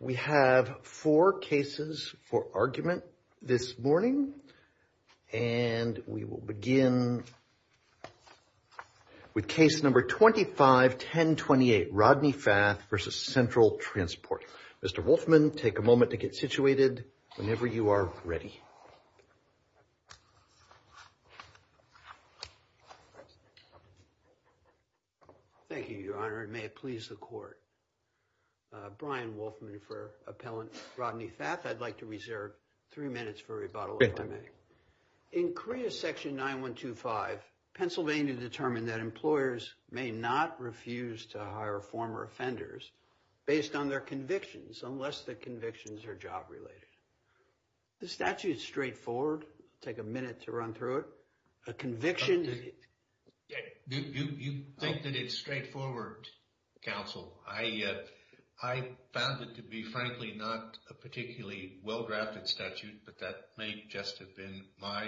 We have four cases for argument this morning, and we will begin with case number 25-1028, Rodney Fath v. Central Transport. Mr. Wolfman, take a moment to get situated whenever you are ready. Thank you, Your Honor, and may it please the Court. Brian Wolfman for Appellant Rodney Fath. I'd like to reserve three minutes for rebuttal if I may. In CREA Section 9125, Pennsylvania determined that employers may not refuse to hire former offenders based on their convictions unless the convictions are job-related. The statute is straightforward. Take a minute to run through it. A conviction... You think that it's straightforward, counsel. I found it to be, frankly, not a particularly well-drafted statute, but that may just have been my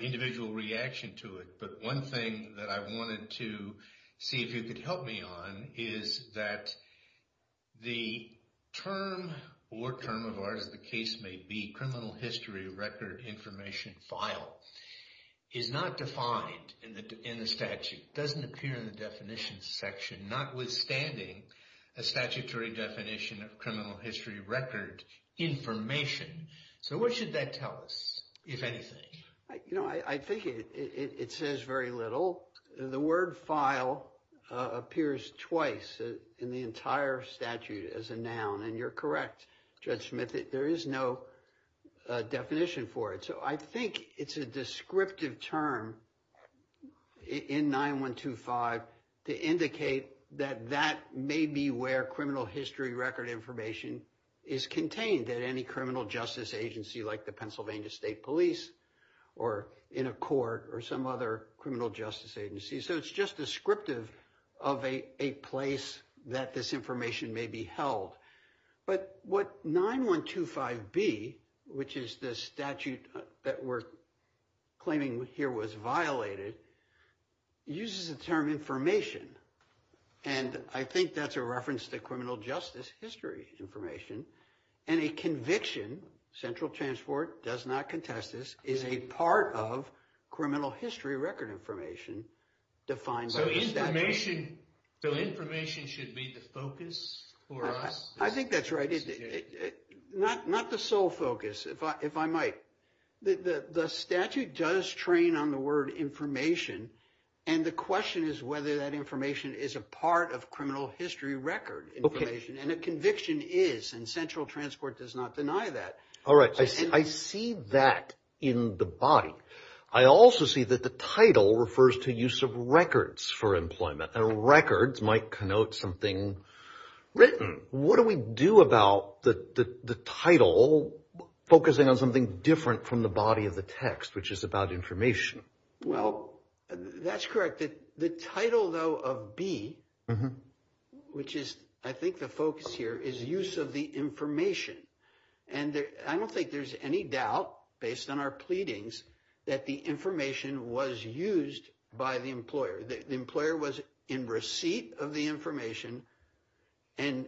individual reaction to it. But one thing that I wanted to see if you could help me on is that the term, or term of art as the case may be, criminal history record information file, is not defined in the statute. It doesn't appear in the definitions section, notwithstanding a statutory definition of criminal history record information. So what should that tell us, if anything? You know, I think it says very little. The word file appears twice in the entire statute as a noun, and you're correct, Judge Smith, there is no definition for it. So I think it's a descriptive term in 9125 to indicate that that may be where criminal history record information is contained at any criminal justice agency like the Pennsylvania State Police or in a court or some other criminal justice agency. So it's just descriptive of a place that this information may be held. But what 9125B, which is the statute that we're claiming here was violated, uses the term information. And I think that's a reference to criminal justice history information. And a conviction, central transport does not contest this, is a part of criminal history record information defined by the statute. So information should be the focus for us? I think that's right. Not the sole focus, if I might. The statute does train on the word information, and the question is whether that information is a part of criminal history record information. And a conviction is, and central transport does not deny that. All right. I see that in the body. I also see that the title refers to use of records for employment, and records might connote something written. What do we do about the title focusing on something different from the body of the text, which is about information? Well, that's correct. The title, though, of B, which is I think the focus here, is use of the information. And I don't think there's any doubt, based on our pleadings, that the information was used by the employer. The employer was in receipt of the information, and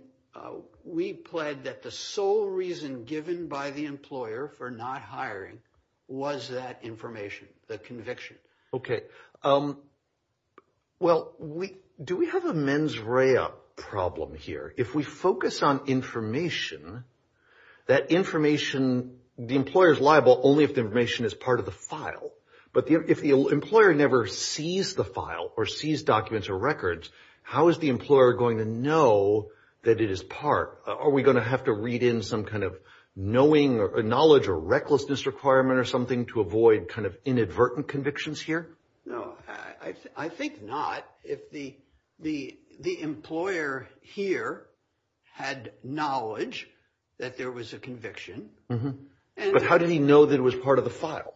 we plead that the sole reason given by the employer for not hiring was that information, the conviction. Okay. Well, do we have a mens rea problem here? If we focus on information, that information, the employer's liable only if the information is part of the file. But if the employer never sees the file or sees documents or records, how is the employer going to know that it is part? Are we going to have to read in some kind of knowing or knowledge or recklessness requirement or something to avoid kind of inadvertent convictions here? No, I think not. If the the the employer here had knowledge that there was a conviction. And how did he know that it was part of the file?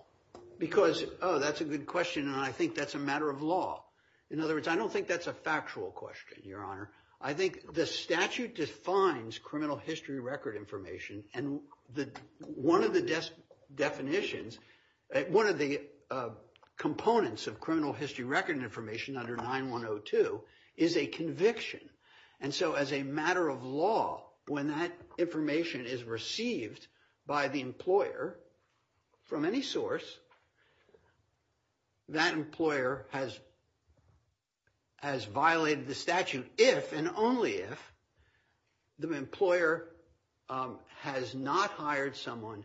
Because, oh, that's a good question. And I think that's a matter of law. In other words, I don't think that's a factual question, Your Honor. I think the statute defines criminal history record information. And one of the definitions, one of the components of criminal history record information under 9102 is a conviction. And so as a matter of law, when that information is received by the employer from any source. That employer has. Has violated the statute if and only if the employer has not hired someone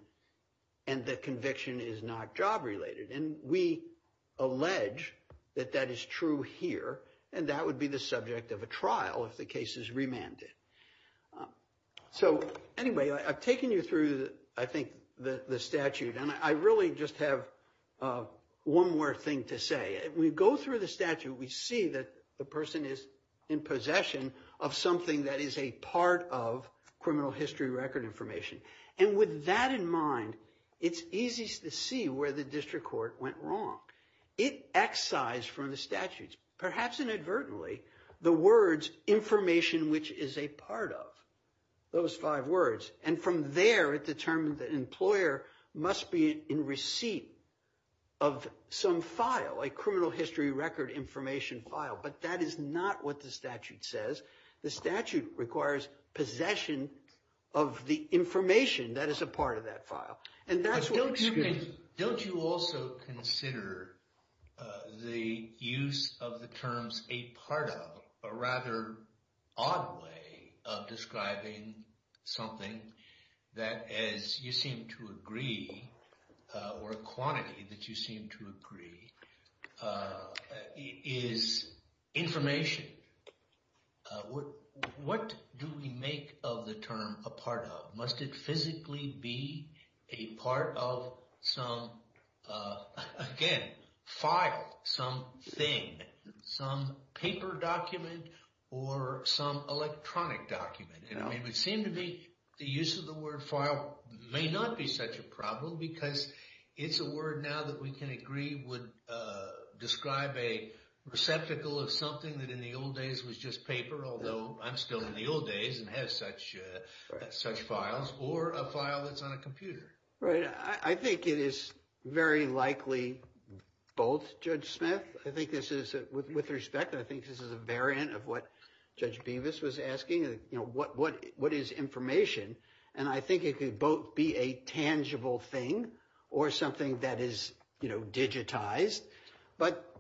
and the conviction is not job related. And we allege that that is true here and that would be the subject of a trial if the case is remanded. So anyway, I've taken you through, I think, the statute. And I really just have one more thing to say. We go through the statute. We see that the person is in possession of something that is a part of criminal history record information. And with that in mind, it's easy to see where the district court went wrong. It excised from the statutes, perhaps inadvertently, the words information, which is a part of those five words. And from there, it determined the employer must be in receipt of some file, a criminal history record information file. But that is not what the statute says. The statute requires possession of the information that is a part of that file. And that's what. Excuse me. Don't you also consider the use of the terms a part of a rather odd way of describing something that as you seem to agree or a quantity that you seem to agree. Is information. What do we make of the term a part of? Must it physically be a part of some, again, file, some thing, some paper document or some electronic document? It would seem to be the use of the word file may not be such a problem because it's a word now that we can agree would describe a receptacle of something that in the old days was just paper. Although I'm still in the old days and has such such files or a file that's on a computer. Right. I think it is very likely both Judge Smith. I think this is with respect. I think this is a variant of what Judge Beavis was asking. You know, what what what is information? And I think it could both be a tangible thing or something that is digitized. But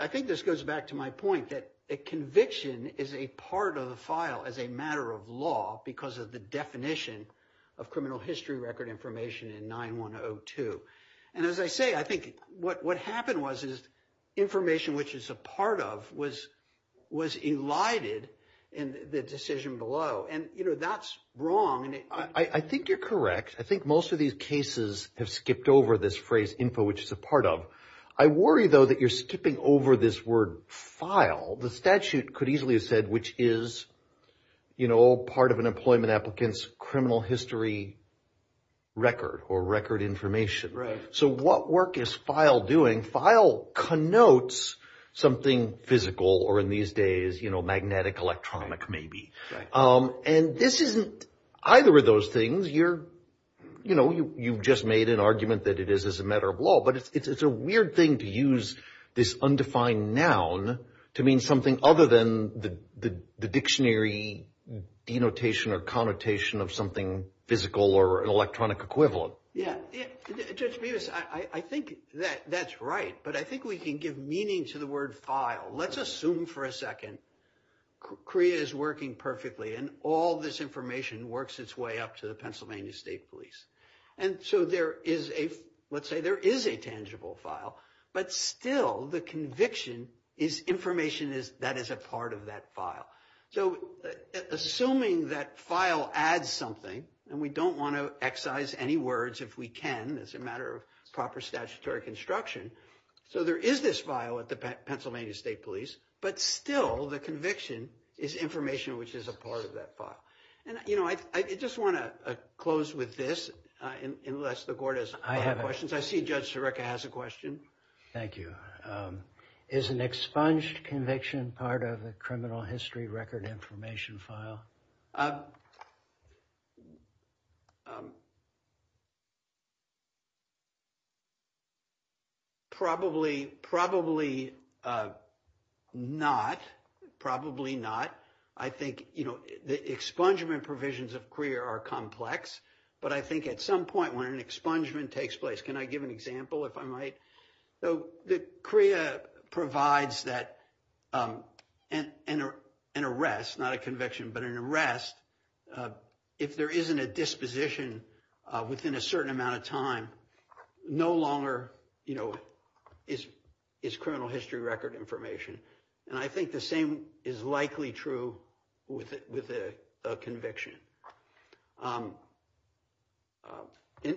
I think this goes back to my point that a conviction is a part of the file as a matter of law because of the definition of criminal history record information in 9 1 0 2. And as I say, I think what what happened was, is information which is a part of was was elided in the decision below. And, you know, that's wrong. I think you're correct. I think most of these cases have skipped over this phrase info, which is a part of. I worry, though, that you're skipping over this word file. The statute could easily have said, which is, you know, part of an employment applicant's criminal history record or record information. So what work is file doing? File connotes something physical or in these days, you know, magnetic electronic maybe. And this isn't either of those things. You're you know, you've just made an argument that it is as a matter of law. But it's a weird thing to use this undefined noun to mean something other than the dictionary denotation or connotation of something physical or electronic equivalent. Yeah. I think that that's right. But I think we can give meaning to the word file. Let's assume for a second. Korea is working perfectly and all this information works its way up to the Pennsylvania State Police. And so there is a let's say there is a tangible file. But still, the conviction is information is that is a part of that file. So assuming that file adds something and we don't want to excise any words if we can as a matter of proper statutory construction. So there is this file at the Pennsylvania State Police. But still, the conviction is information which is a part of that file. And, you know, I just want to close with this unless the court has questions. I see Judge Sirica has a question. Thank you. Is an expunged conviction part of the criminal history record information file? Probably probably not. Probably not. I think, you know, the expungement provisions of Korea are complex. But I think at some point when an expungement takes place, can I give an example if I might? So Korea provides that and an arrest, not a conviction, but an arrest. If there isn't a disposition within a certain amount of time, no longer, you know, is is criminal history record information. And I think the same is likely true with with a conviction.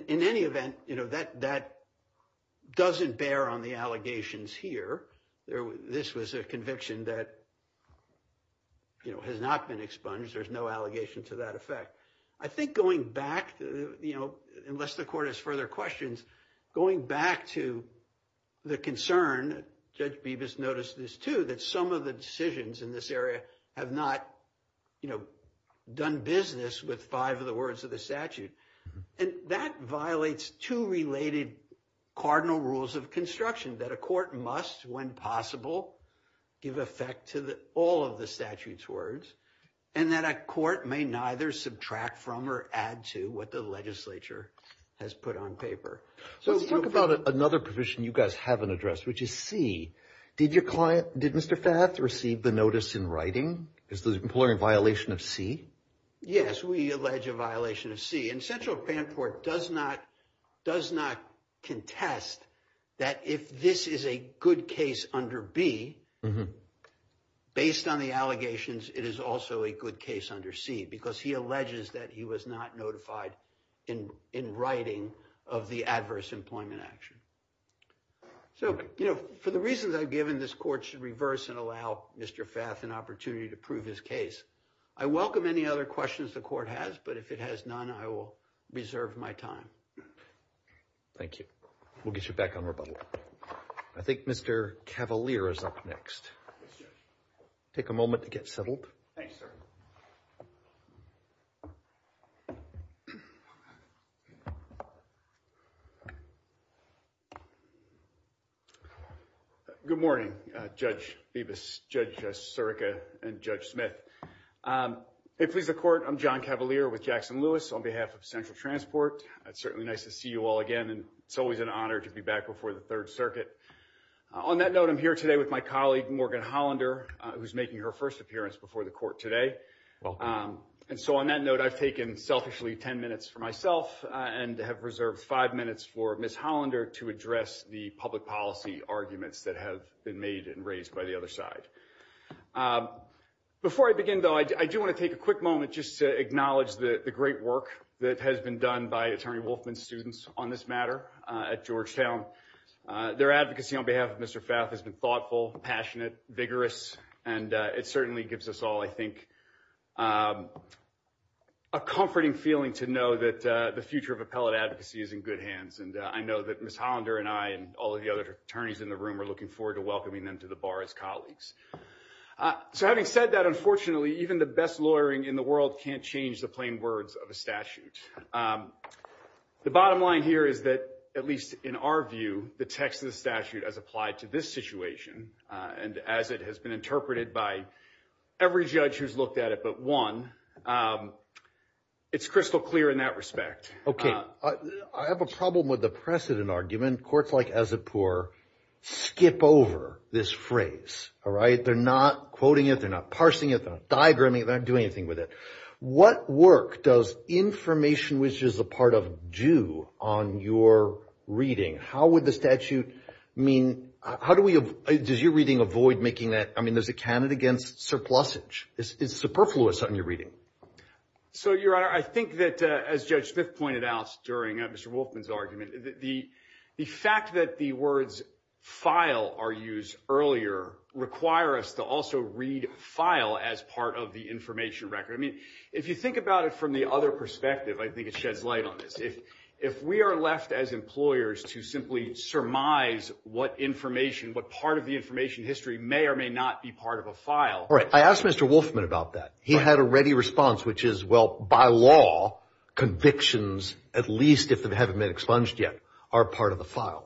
In any event, you know, that that doesn't bear on the allegations here. This was a conviction that, you know, has not been expunged. There's no allegation to that effect. I think going back, you know, unless the court has further questions, going back to the concern. Judge Bevis noticed this, too, that some of the decisions in this area have not, you know, done business with five of the words of the statute. And that violates two related cardinal rules of construction that a court must, when possible, give effect to all of the statute's words. And that a court may neither subtract from or add to what the legislature has put on paper. So let's talk about another position you guys haven't addressed, which is C. Did your client, did Mr. Fath, receive the notice in writing? Is the employer in violation of C? Yes, we allege a violation of C. And Central Panport does not does not contest that if this is a good case under B, based on the allegations, it is also a good case under C. Because he alleges that he was not notified in in writing of the adverse employment action. So, you know, for the reasons I've given, this court should reverse and allow Mr. Fath an opportunity to prove his case. I welcome any other questions the court has, but if it has none, I will reserve my time. Thank you. We'll get you back on rebuttal. I think Mr. Cavalier is up next. Take a moment to get settled. Good morning, Judge Bevis, Judge Sirica, and Judge Smith. It pleases the court, I'm John Cavalier with Jackson Lewis on behalf of Central Transport. It's certainly nice to see you all again, and it's always an honor to be back before the Third Circuit. On that note, I'm here today with my colleague, Morgan Hollander, who's making her first appearance before the court today. And so on that note, I've taken selfishly 10 minutes for myself and have reserved five minutes for Miss Hollander to address the public policy arguments that have been made and raised by the other side. Before I begin, though, I do want to take a quick moment just to acknowledge the great work that has been done by Attorney Wolfman students on this matter at Georgetown. Their advocacy on behalf of Mr. Fath has been thoughtful, passionate, vigorous, and it certainly gives us all, I think, a comforting feeling to know that the future of appellate advocacy is in good hands. And I know that Miss Hollander and I and all of the other attorneys in the room are looking forward to welcoming them to the bar as colleagues. So having said that, unfortunately, even the best lawyering in the world can't change the plain words of a statute. The bottom line here is that, at least in our view, the text of the statute as applied to this situation, and as it has been interpreted by every judge who's looked at it but one, it's crystal clear in that respect. Okay. I have a problem with the precedent argument. Courts like Azipur skip over this phrase. All right? They're not quoting it. They're not parsing it. They're not diagramming it. They're not doing anything with it. What work does information, which is a part of due, on your reading? How would the statute mean – how do we – does your reading avoid making that – I mean, does it count against surplusage? Is it superfluous on your reading? So, Your Honor, I think that, as Judge Smith pointed out during Mr. Wolfman's argument, the fact that the words file are used earlier require us to also read file as part of the information record. I mean, if you think about it from the other perspective, I think it sheds light on this. If we are left as employers to simply surmise what information, what part of the information history may or may not be part of a file – I asked Mr. Wolfman about that. He had a ready response, which is, well, by law, convictions, at least if they haven't been expunged yet, are part of the file.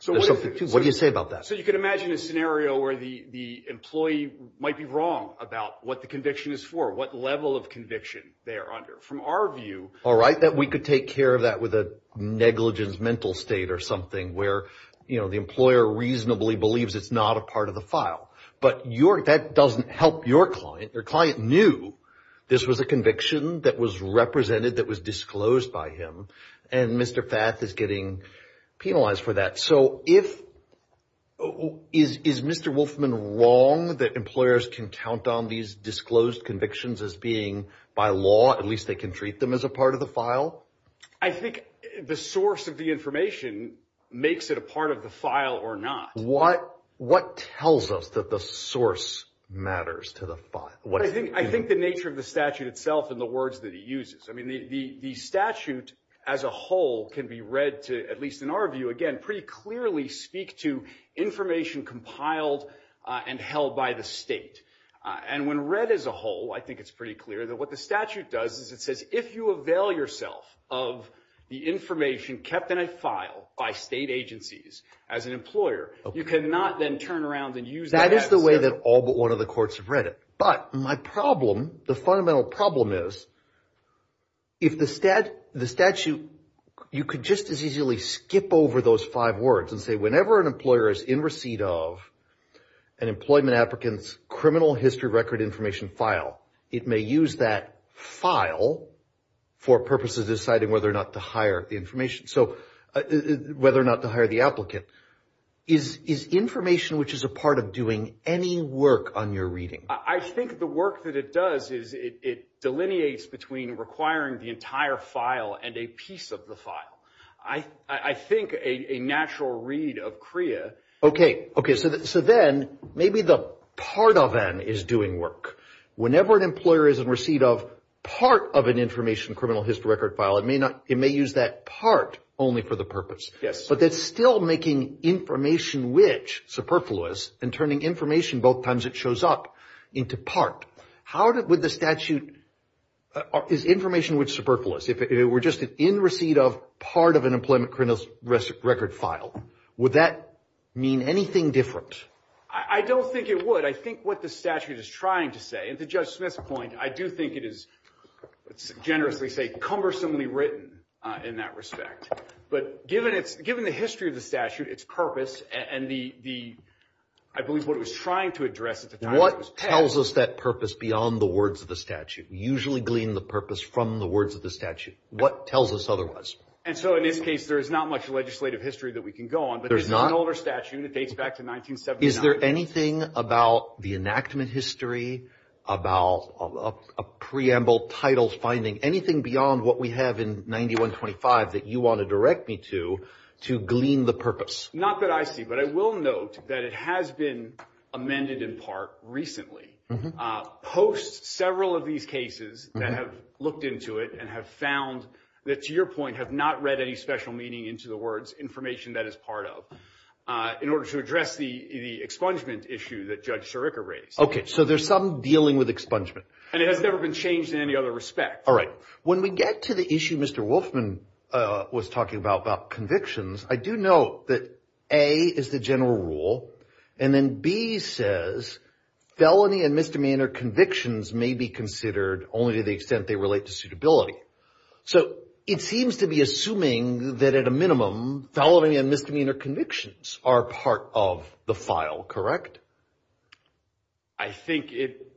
So what do you say about that? So you could imagine a scenario where the employee might be wrong about what the conviction is for, what level of conviction they are under. From our view – All right, that we could take care of that with a negligence mental state or something where, you know, the employer reasonably believes it's not a part of the file. But that doesn't help your client. Your client knew this was a conviction that was represented, that was disclosed by him, and Mr. Fath is getting penalized for that. So if – is Mr. Wolfman wrong that employers can count on these disclosed convictions as being, by law, at least they can treat them as a part of the file? I think the source of the information makes it a part of the file or not. What tells us that the source matters to the file? I think the nature of the statute itself and the words that it uses. I mean, the statute as a whole can be read to, at least in our view, again, pretty clearly speak to information compiled and held by the state. And when read as a whole, I think it's pretty clear that what the statute does is it says if you avail yourself of the information kept in a file by state agencies as an employer, you cannot then turn around and use that answer. That is the way that all but one of the courts have read it. But my problem, the fundamental problem is if the statute – you could just as easily skip over those five words and say whenever an employer is in receipt of an employment applicant's criminal history record information file, it may use that file for purposes of deciding whether or not to hire the information. So whether or not to hire the applicant. Is information which is a part of doing any work on your reading? I think the work that it does is it delineates between requiring the entire file and a piece of the file. I think a natural read of CREA – So then maybe the part of an is doing work. Whenever an employer is in receipt of part of an information criminal history record file, it may use that part only for the purpose. Yes. But that's still making information which superfluous and turning information both times it shows up into part. How would the statute – is information which superfluous? If it were just an in receipt of part of an employment criminal record file, would that mean anything different? I don't think it would. I think what the statute is trying to say – and to Judge Smith's point, I do think it is, let's generously say, cumbersomely written in that respect. But given the history of the statute, its purpose, and the – I believe what it was trying to address at the time it was passed – What tells us that purpose beyond the words of the statute? We usually glean the purpose from the words of the statute. What tells us otherwise? And so in this case, there is not much legislative history that we can go on. There's not? But this is an older statute, and it dates back to 1979. Is there anything about the enactment history, about a preamble title finding, anything beyond what we have in 9125 that you want to direct me to, to glean the purpose? Not that I see, but I will note that it has been amended in part recently. Post several of these cases that have looked into it and have found that, to your point, have not read any special meaning into the words, information that is part of. In order to address the expungement issue that Judge Sirica raised. Okay, so there's some dealing with expungement. And it has never been changed in any other respect. All right. When we get to the issue Mr. Wolfman was talking about, about convictions, I do note that A is the general rule, and then B says felony and misdemeanor convictions may be considered only to the extent they relate to suitability. So it seems to be assuming that at a minimum, felony and misdemeanor convictions are part of the file, correct? I think it,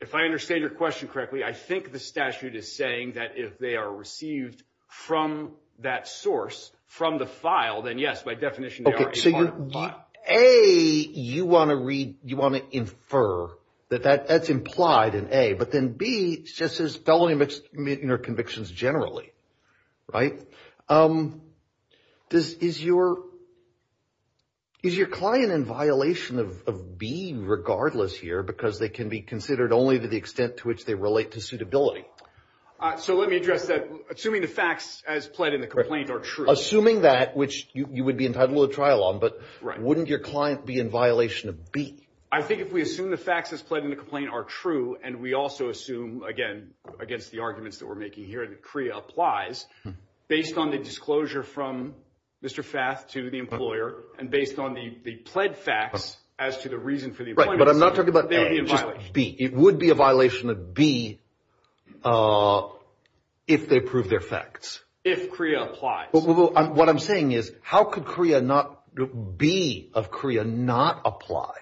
if I understand your question correctly, I think the statute is saying that if they are received from that source, from the file, then yes, by definition they are a part of the file. A, you want to read, you want to infer that that's implied in A, but then B just says felony and misdemeanor convictions generally, right? Does, is your, is your client in violation of B regardless here because they can be considered only to the extent to which they relate to suitability? So let me address that. Assuming the facts as pled in the complaint are true. Assuming that, which you would be entitled to a trial on, but wouldn't your client be in violation of B? I think if we assume the facts as pled in the complaint are true, and we also assume, again, against the arguments that we're making here that CREA applies, based on the disclosure from Mr. Fath to the employer, and based on the pled facts as to the reason for the appointment. Right, but I'm not talking about A, just B. It would be a violation of B if they prove their facts. If CREA applies. Well, what I'm saying is how could CREA not, B of CREA not apply?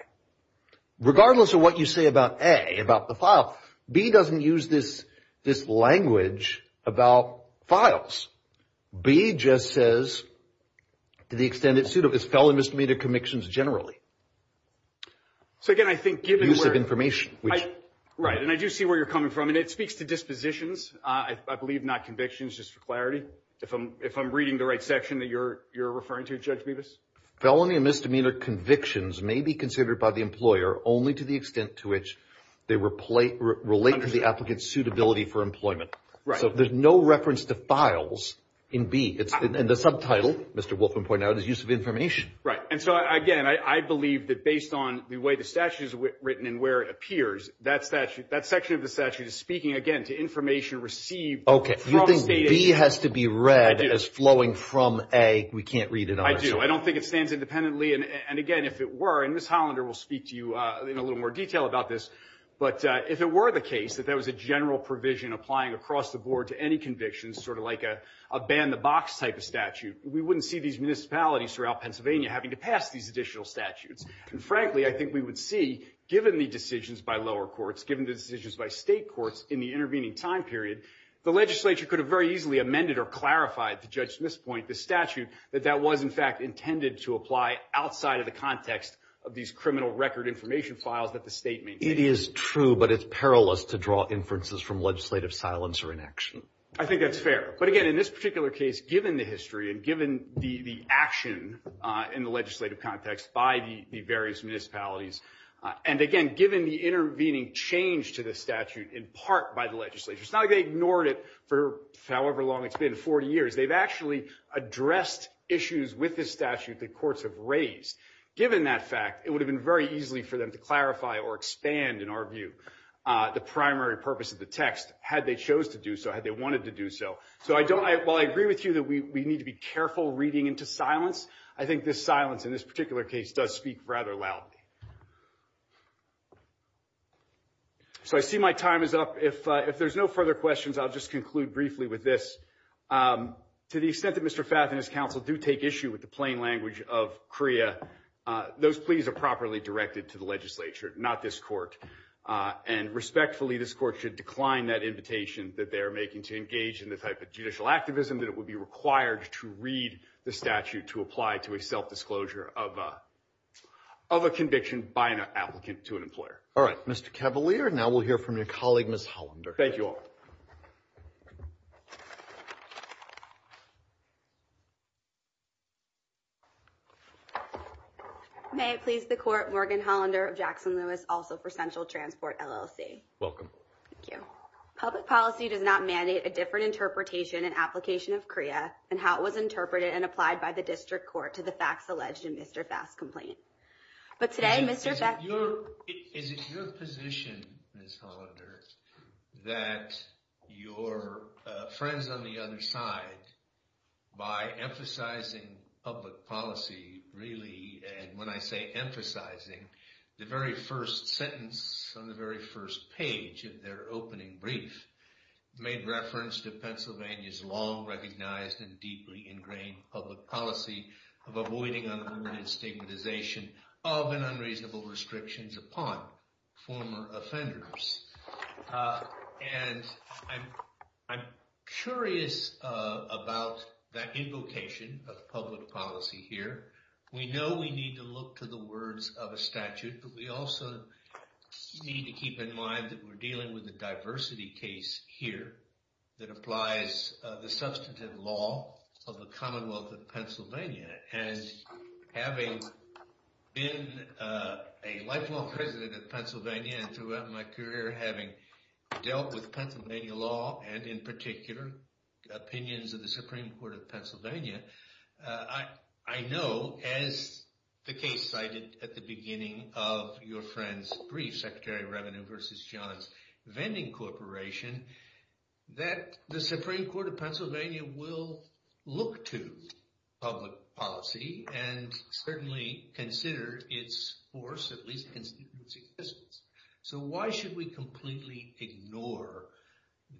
Regardless of what you say about A, about the file, B doesn't use this, this language about files. B just says to the extent it's suitable, it's felony and misdemeanor convictions generally. So again, I think given where. Use of information, which. Right, and I do see where you're coming from, and it speaks to dispositions, I believe not convictions, just for clarity. If I'm reading the right section that you're referring to, Judge Bevis. Felony and misdemeanor convictions may be considered by the employer only to the extent to which they relate to the applicant's suitability for employment. So there's no reference to files in B. And the subtitle, Mr. Wolfman pointed out, is use of information. Right, and so again, I believe that based on the way the statute is written and where it appears, that section of the statute is speaking, again, to information received. Okay. You think B has to be read as flowing from A. We can't read it. I do. I don't think it stands independently, and again, if it were, and Ms. Hollander will speak to you in a little more detail about this, but if it were the case that there was a general provision applying across the board to any convictions, sort of like a ban the box type of statute, we wouldn't see these municipalities throughout Pennsylvania having to pass these additional statutes. And frankly, I think we would see, given the decisions by lower courts, given the decisions by state courts in the intervening time period, the legislature could have very easily amended or clarified to Judge Smith's point, the statute, that that was, in fact, intended to apply outside of the context of these criminal record information files that the state maintained. It is true, but it's perilous to draw inferences from legislative silence or inaction. I think that's fair. But again, in this particular case, given the history and given the action in the legislative context by the various municipalities, and again, given the intervening change to the statute in part by the legislature, it's not like they ignored it for however long it's been, 40 years. They've actually addressed issues with this statute that courts have raised. Given that fact, it would have been very easily for them to clarify or expand, in our view, the primary purpose of the text, had they chose to do so, had they wanted to do so. So while I agree with you that we need to be careful reading into silence, I think this silence in this particular case does speak rather loudly. So I see my time is up. If there's no further questions, I'll just conclude briefly with this. To the extent that Mr. Fath and his counsel do take issue with the plain language of CREA, those pleas are properly directed to the legislature, not this court. And respectfully, this court should decline that invitation that they are making to engage in the type of judicial activism that it would be required to read the statute to apply to a self-disclosure of a conviction by an applicant to an employer. All right, Mr. Cavalier, now we'll hear from your colleague, Ms. Hollander. Thank you all. May it please the court, Morgan Hollander of Jackson Lewis, also for Central Transport, LLC. Welcome. Thank you. Public policy does not mandate a different interpretation and application of CREA and how it was interpreted and applied by the district court to the facts alleged in Mr. Fath's complaint. But today, Mr. Fath... Is it your position, Ms. Hollander, that your friends on the other side, by emphasizing public policy, really, and when I say emphasizing, the very first sentence on the very first page of their opening brief made reference to Pennsylvania's long-recognized and deeply ingrained public policy of avoiding unarmed and stigmatization of and unreasonable restrictions upon former offenders. And I'm curious about that invocation of public policy here. We know we need to look to the words of a statute, but we also need to keep in mind that we're dealing with a diversity case here that applies the substantive law of the Commonwealth of Pennsylvania. And having been a lifelong president of Pennsylvania and throughout my career having dealt with Pennsylvania law and, in particular, opinions of the Supreme Court of Pennsylvania, I know, as the case cited at the beginning of your friend's brief, Secretary of Revenue v. Johns Vending Corporation, that the Supreme Court of Pennsylvania will look to public policy and certainly consider its force, at least, in its existence. So why should we completely ignore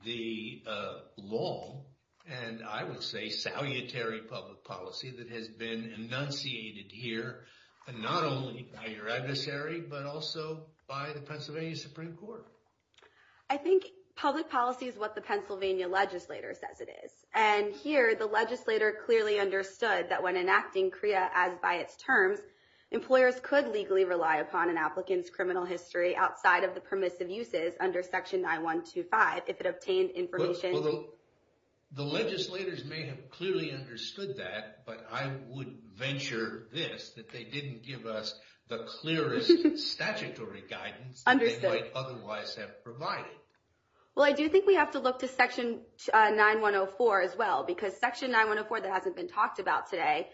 the law and, I would say, salutary public policy that has been enunciated here not only by your adversary but also by the Pennsylvania Supreme Court? I think public policy is what the Pennsylvania legislator says it is. And here, the legislator clearly understood that when enacting CREA as by its terms, employers could legally rely upon an applicant's criminal history outside of the permissive uses under Section 9125 if it obtained information... The legislators may have clearly understood that, but I would venture this, that they didn't give us the clearest statutory guidance they might otherwise have provided. Well, I do think we have to look to Section 9104 as well because Section 9104 that hasn't been talked about today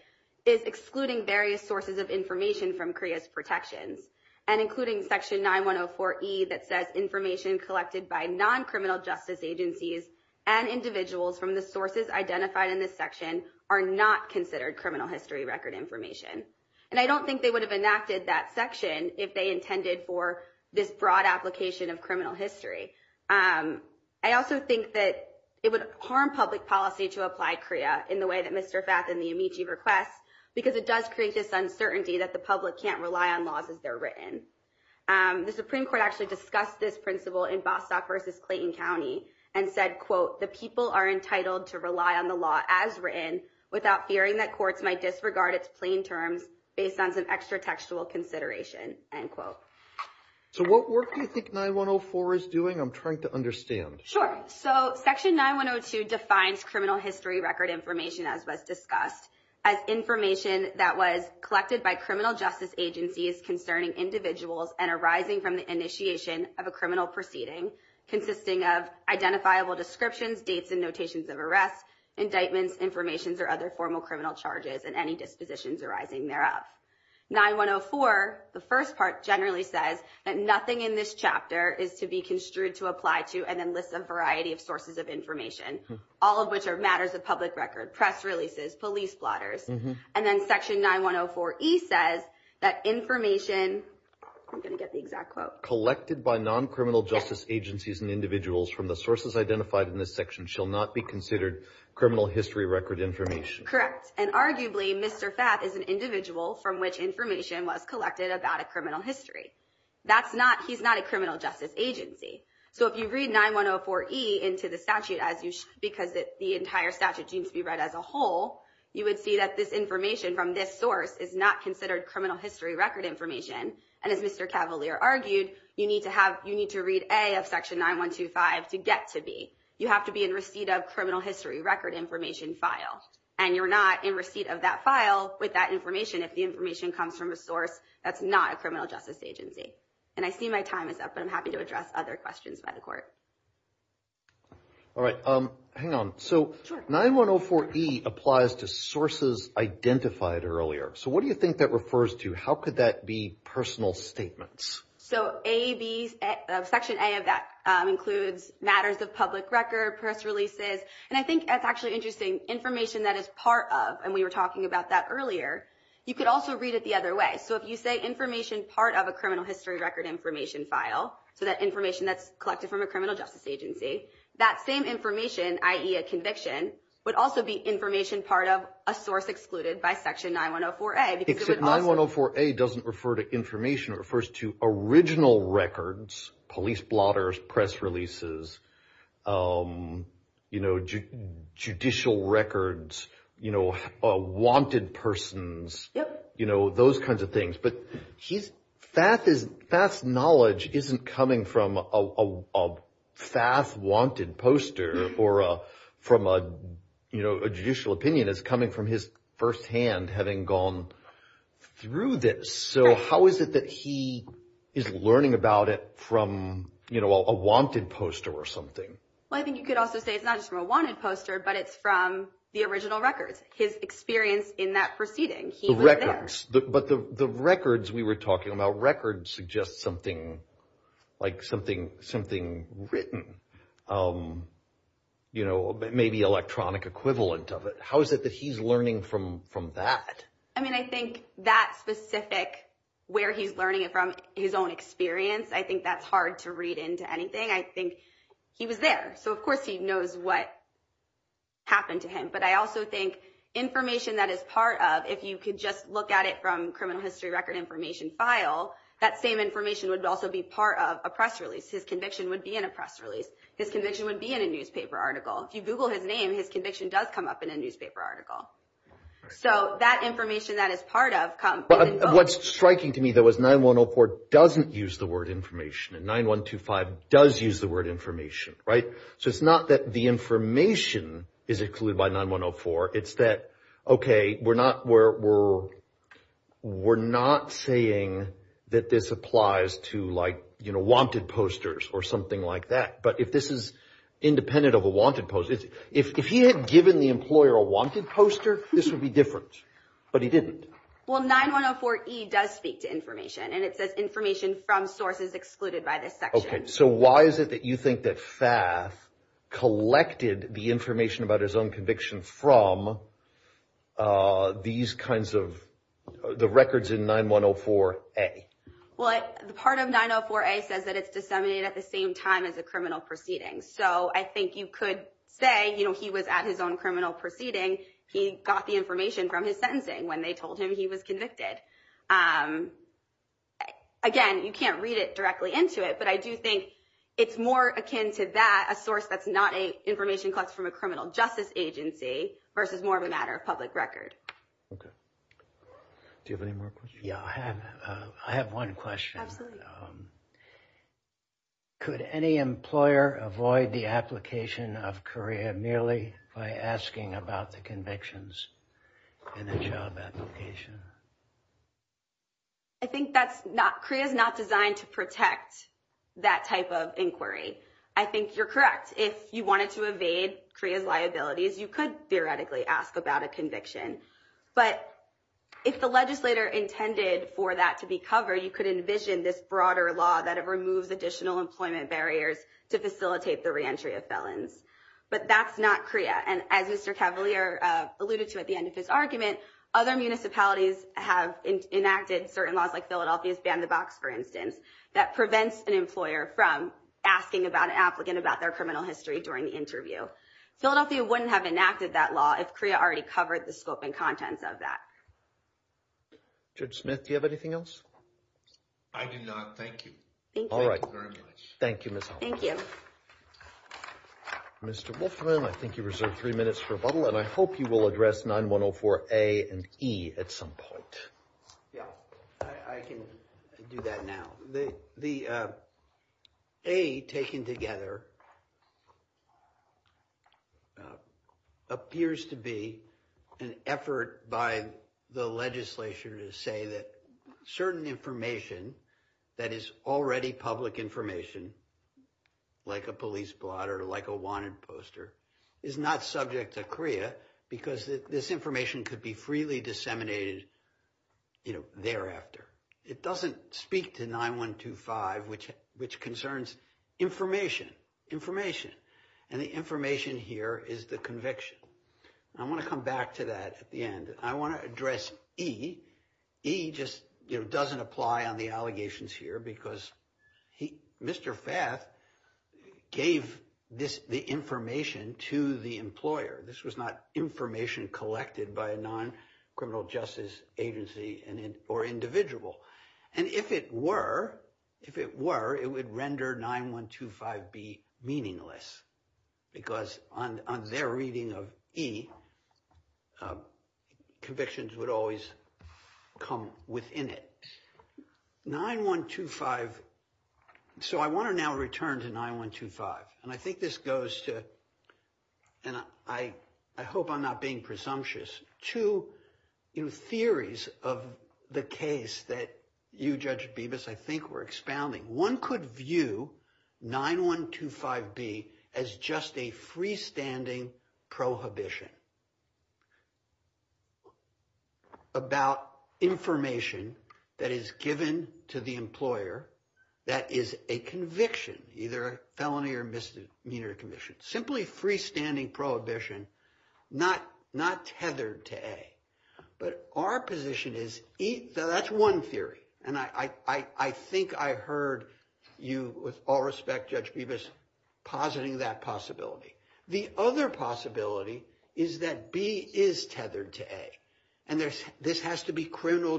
is excluding various sources of information from CREA's protections. And including Section 9104E that says information collected by non-criminal justice agencies and individuals from the sources identified in this section are not considered criminal history record information. And I don't think they would have enacted that section if they intended for this broad application of criminal history. I also think that it would harm public policy to apply CREA in the way that Mr. Fath and the Amici request because it does create this uncertainty that the public can't rely on laws as they're written. The Supreme Court actually discussed this principle in Bostock versus Clayton County and said, quote, the people are entitled to rely on the law as written without fearing that courts might disregard its plain terms based on some extra textual consideration, end quote. So what work do you think 9104 is doing? I'm trying to understand. Sure. So Section 9102 defines criminal history record information as was discussed as information that was collected by criminal justice agencies concerning individuals and arising from the initiation of a criminal proceeding consisting of identifiable descriptions, dates, and notations of arrests, indictments, informations, or other formal criminal charges and any dispositions arising thereof. 9104, the first part, generally says that nothing in this chapter is to be construed to apply to and then lists a variety of sources of information, all of which are matters of public record, press releases, police blotters. And then Section 9104E says that information, I'm going to get the exact quote, collected by non-criminal justice agencies and individuals from the sources identified in this section shall not be considered criminal history record information. Correct. And arguably, Mr. Fath is an individual from which information was collected about a criminal history. He's not a criminal justice agency. So if you read 9104E into the statute because the entire statute needs to be read as a whole, you would see that this information from this source is not considered criminal history record information. And as Mr. Cavalier argued, you need to read A of Section 9125 to get to B. You have to be in receipt of criminal history record information file. And you're not in receipt of that file with that information if the information comes from a source that's not a criminal justice agency. And I see my time is up, but I'm happy to address other questions by the court. All right. Hang on. So 9104E applies to sources identified earlier. So what do you think that refers to? How could that be personal statements? So Section A of that includes matters of public record, press releases. And I think that's actually interesting. Information that is part of, and we were talking about that earlier, you could also read it the other way. So if you say information part of a criminal history record information file, so that information that's collected from a criminal justice agency, that same information, i.e. a conviction, would also be information part of a source excluded by Section 9104A. Except 9104A doesn't refer to information. It refers to original records, police blotters, press releases, judicial records, wanted persons, those kinds of things. But Fath's knowledge isn't coming from a Fath wanted poster or from a judicial opinion. It's coming from his firsthand having gone through this. So how is it that he is learning about it from a wanted poster or something? Well, I think you could also say it's not just from a wanted poster, but it's from the original records, his experience in that proceeding. The records. But the records we were talking about, records suggest something like something written, you know, maybe electronic equivalent of it. How is it that he's learning from that? I mean, I think that specific where he's learning it from, his own experience, I think that's hard to read into anything. I think he was there. So of course he knows what happened to him. But I also think information that is part of, if you could just look at it from criminal history record information file, that same information would also be part of a press release. His conviction would be in a press release. His conviction would be in a newspaper article. If you Google his name, his conviction does come up in a newspaper article. So that information that is part of. What's striking to me, though, is 9104 doesn't use the word information and 9125 does use the word information, right? So it's not that the information is included by 9104. It's that, okay, we're not saying that this applies to, like, you know, wanted posters or something like that. But if this is independent of a wanted poster, if he had given the employer a wanted poster, this would be different. But he didn't. Well, 9104E does speak to information. And it says information from sources excluded by this section. So why is it that you think that FAF collected the information about his own conviction from these kinds of the records in 9104A? Well, the part of 904A says that it's disseminated at the same time as a criminal proceeding. So I think you could say, you know, he was at his own criminal proceeding. He got the information from his sentencing when they told him he was convicted. Again, you can't read it directly into it. But I do think it's more akin to that, a source that's not information collected from a criminal justice agency, versus more of a matter of public record. Okay. Do you have any more questions? Yeah, I have. I have one question. Could any employer avoid the application of CREA merely by asking about the convictions in the job application? I think that's not, CREA is not designed to protect that type of inquiry. I think you're correct. If you wanted to evade CREA's liabilities, you could theoretically ask about a conviction. But if the legislator intended for that to be covered, you could envision this broader law that removes additional employment barriers to facilitate the reentry of felons. But that's not CREA. And as Mr. Cavalier alluded to at the end of his argument, other municipalities have enacted certain laws, like Philadelphia's Ban the Box, for instance, that prevents an employer from asking about an applicant about their criminal history during the interview. Philadelphia wouldn't have enacted that law if CREA already covered the scope and contents of that. Judge Smith, do you have anything else? I do not. Thank you. All right. Thank you very much. Thank you, Ms. Holmes. Thank you. Mr. Wolfman, I think you reserve three minutes for rebuttal, and I hope you will address 9104A and E at some point. Yeah, I can do that now. The A taken together appears to be an effort by the legislature to say that certain information that is already public information, like a police blot or like a wanted poster, is not subject to CREA because this information could be freely disseminated thereafter. It doesn't speak to 9125, which concerns information. And the information here is the conviction. I want to come back to that at the end. I want to address E. E just doesn't apply on the allegations here because Mr. Fath gave the information to the employer. This was not information collected by a non-criminal justice agency or individual. And if it were, if it were, it would render 9125B meaningless because on their reading of E, convictions would always come within it. So I want to now return to 9125, and I think this goes to, and I hope I'm not being presumptuous, two theories of the case that you, Judge Bibas, I think were expounding. One could view 9125B as just a freestanding prohibition about information that is given to the employer that is a conviction, either a felony or misdemeanor conviction. Simply freestanding prohibition, not tethered to A. But our position is, that's one theory, and I think I heard you, with all respect, Judge Bibas, positing that possibility. The other possibility is that B is tethered to A. Therefore, it is criminal history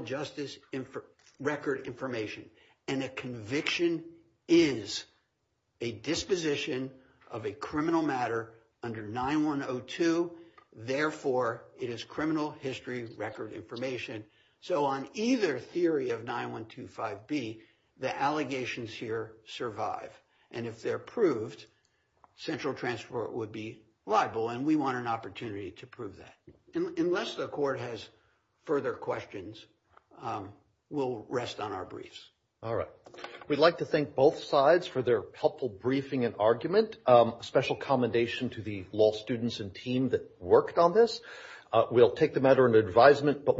record information. So on either theory of 9125B, the allegations here survive. And if they're proved, central transport would be liable, and we want an opportunity to prove that. Unless the court has further questions, we'll rest on our briefs. All right. We'd like to thank both sides for their helpful briefing and argument. Special commendation to the law students and team that worked on this.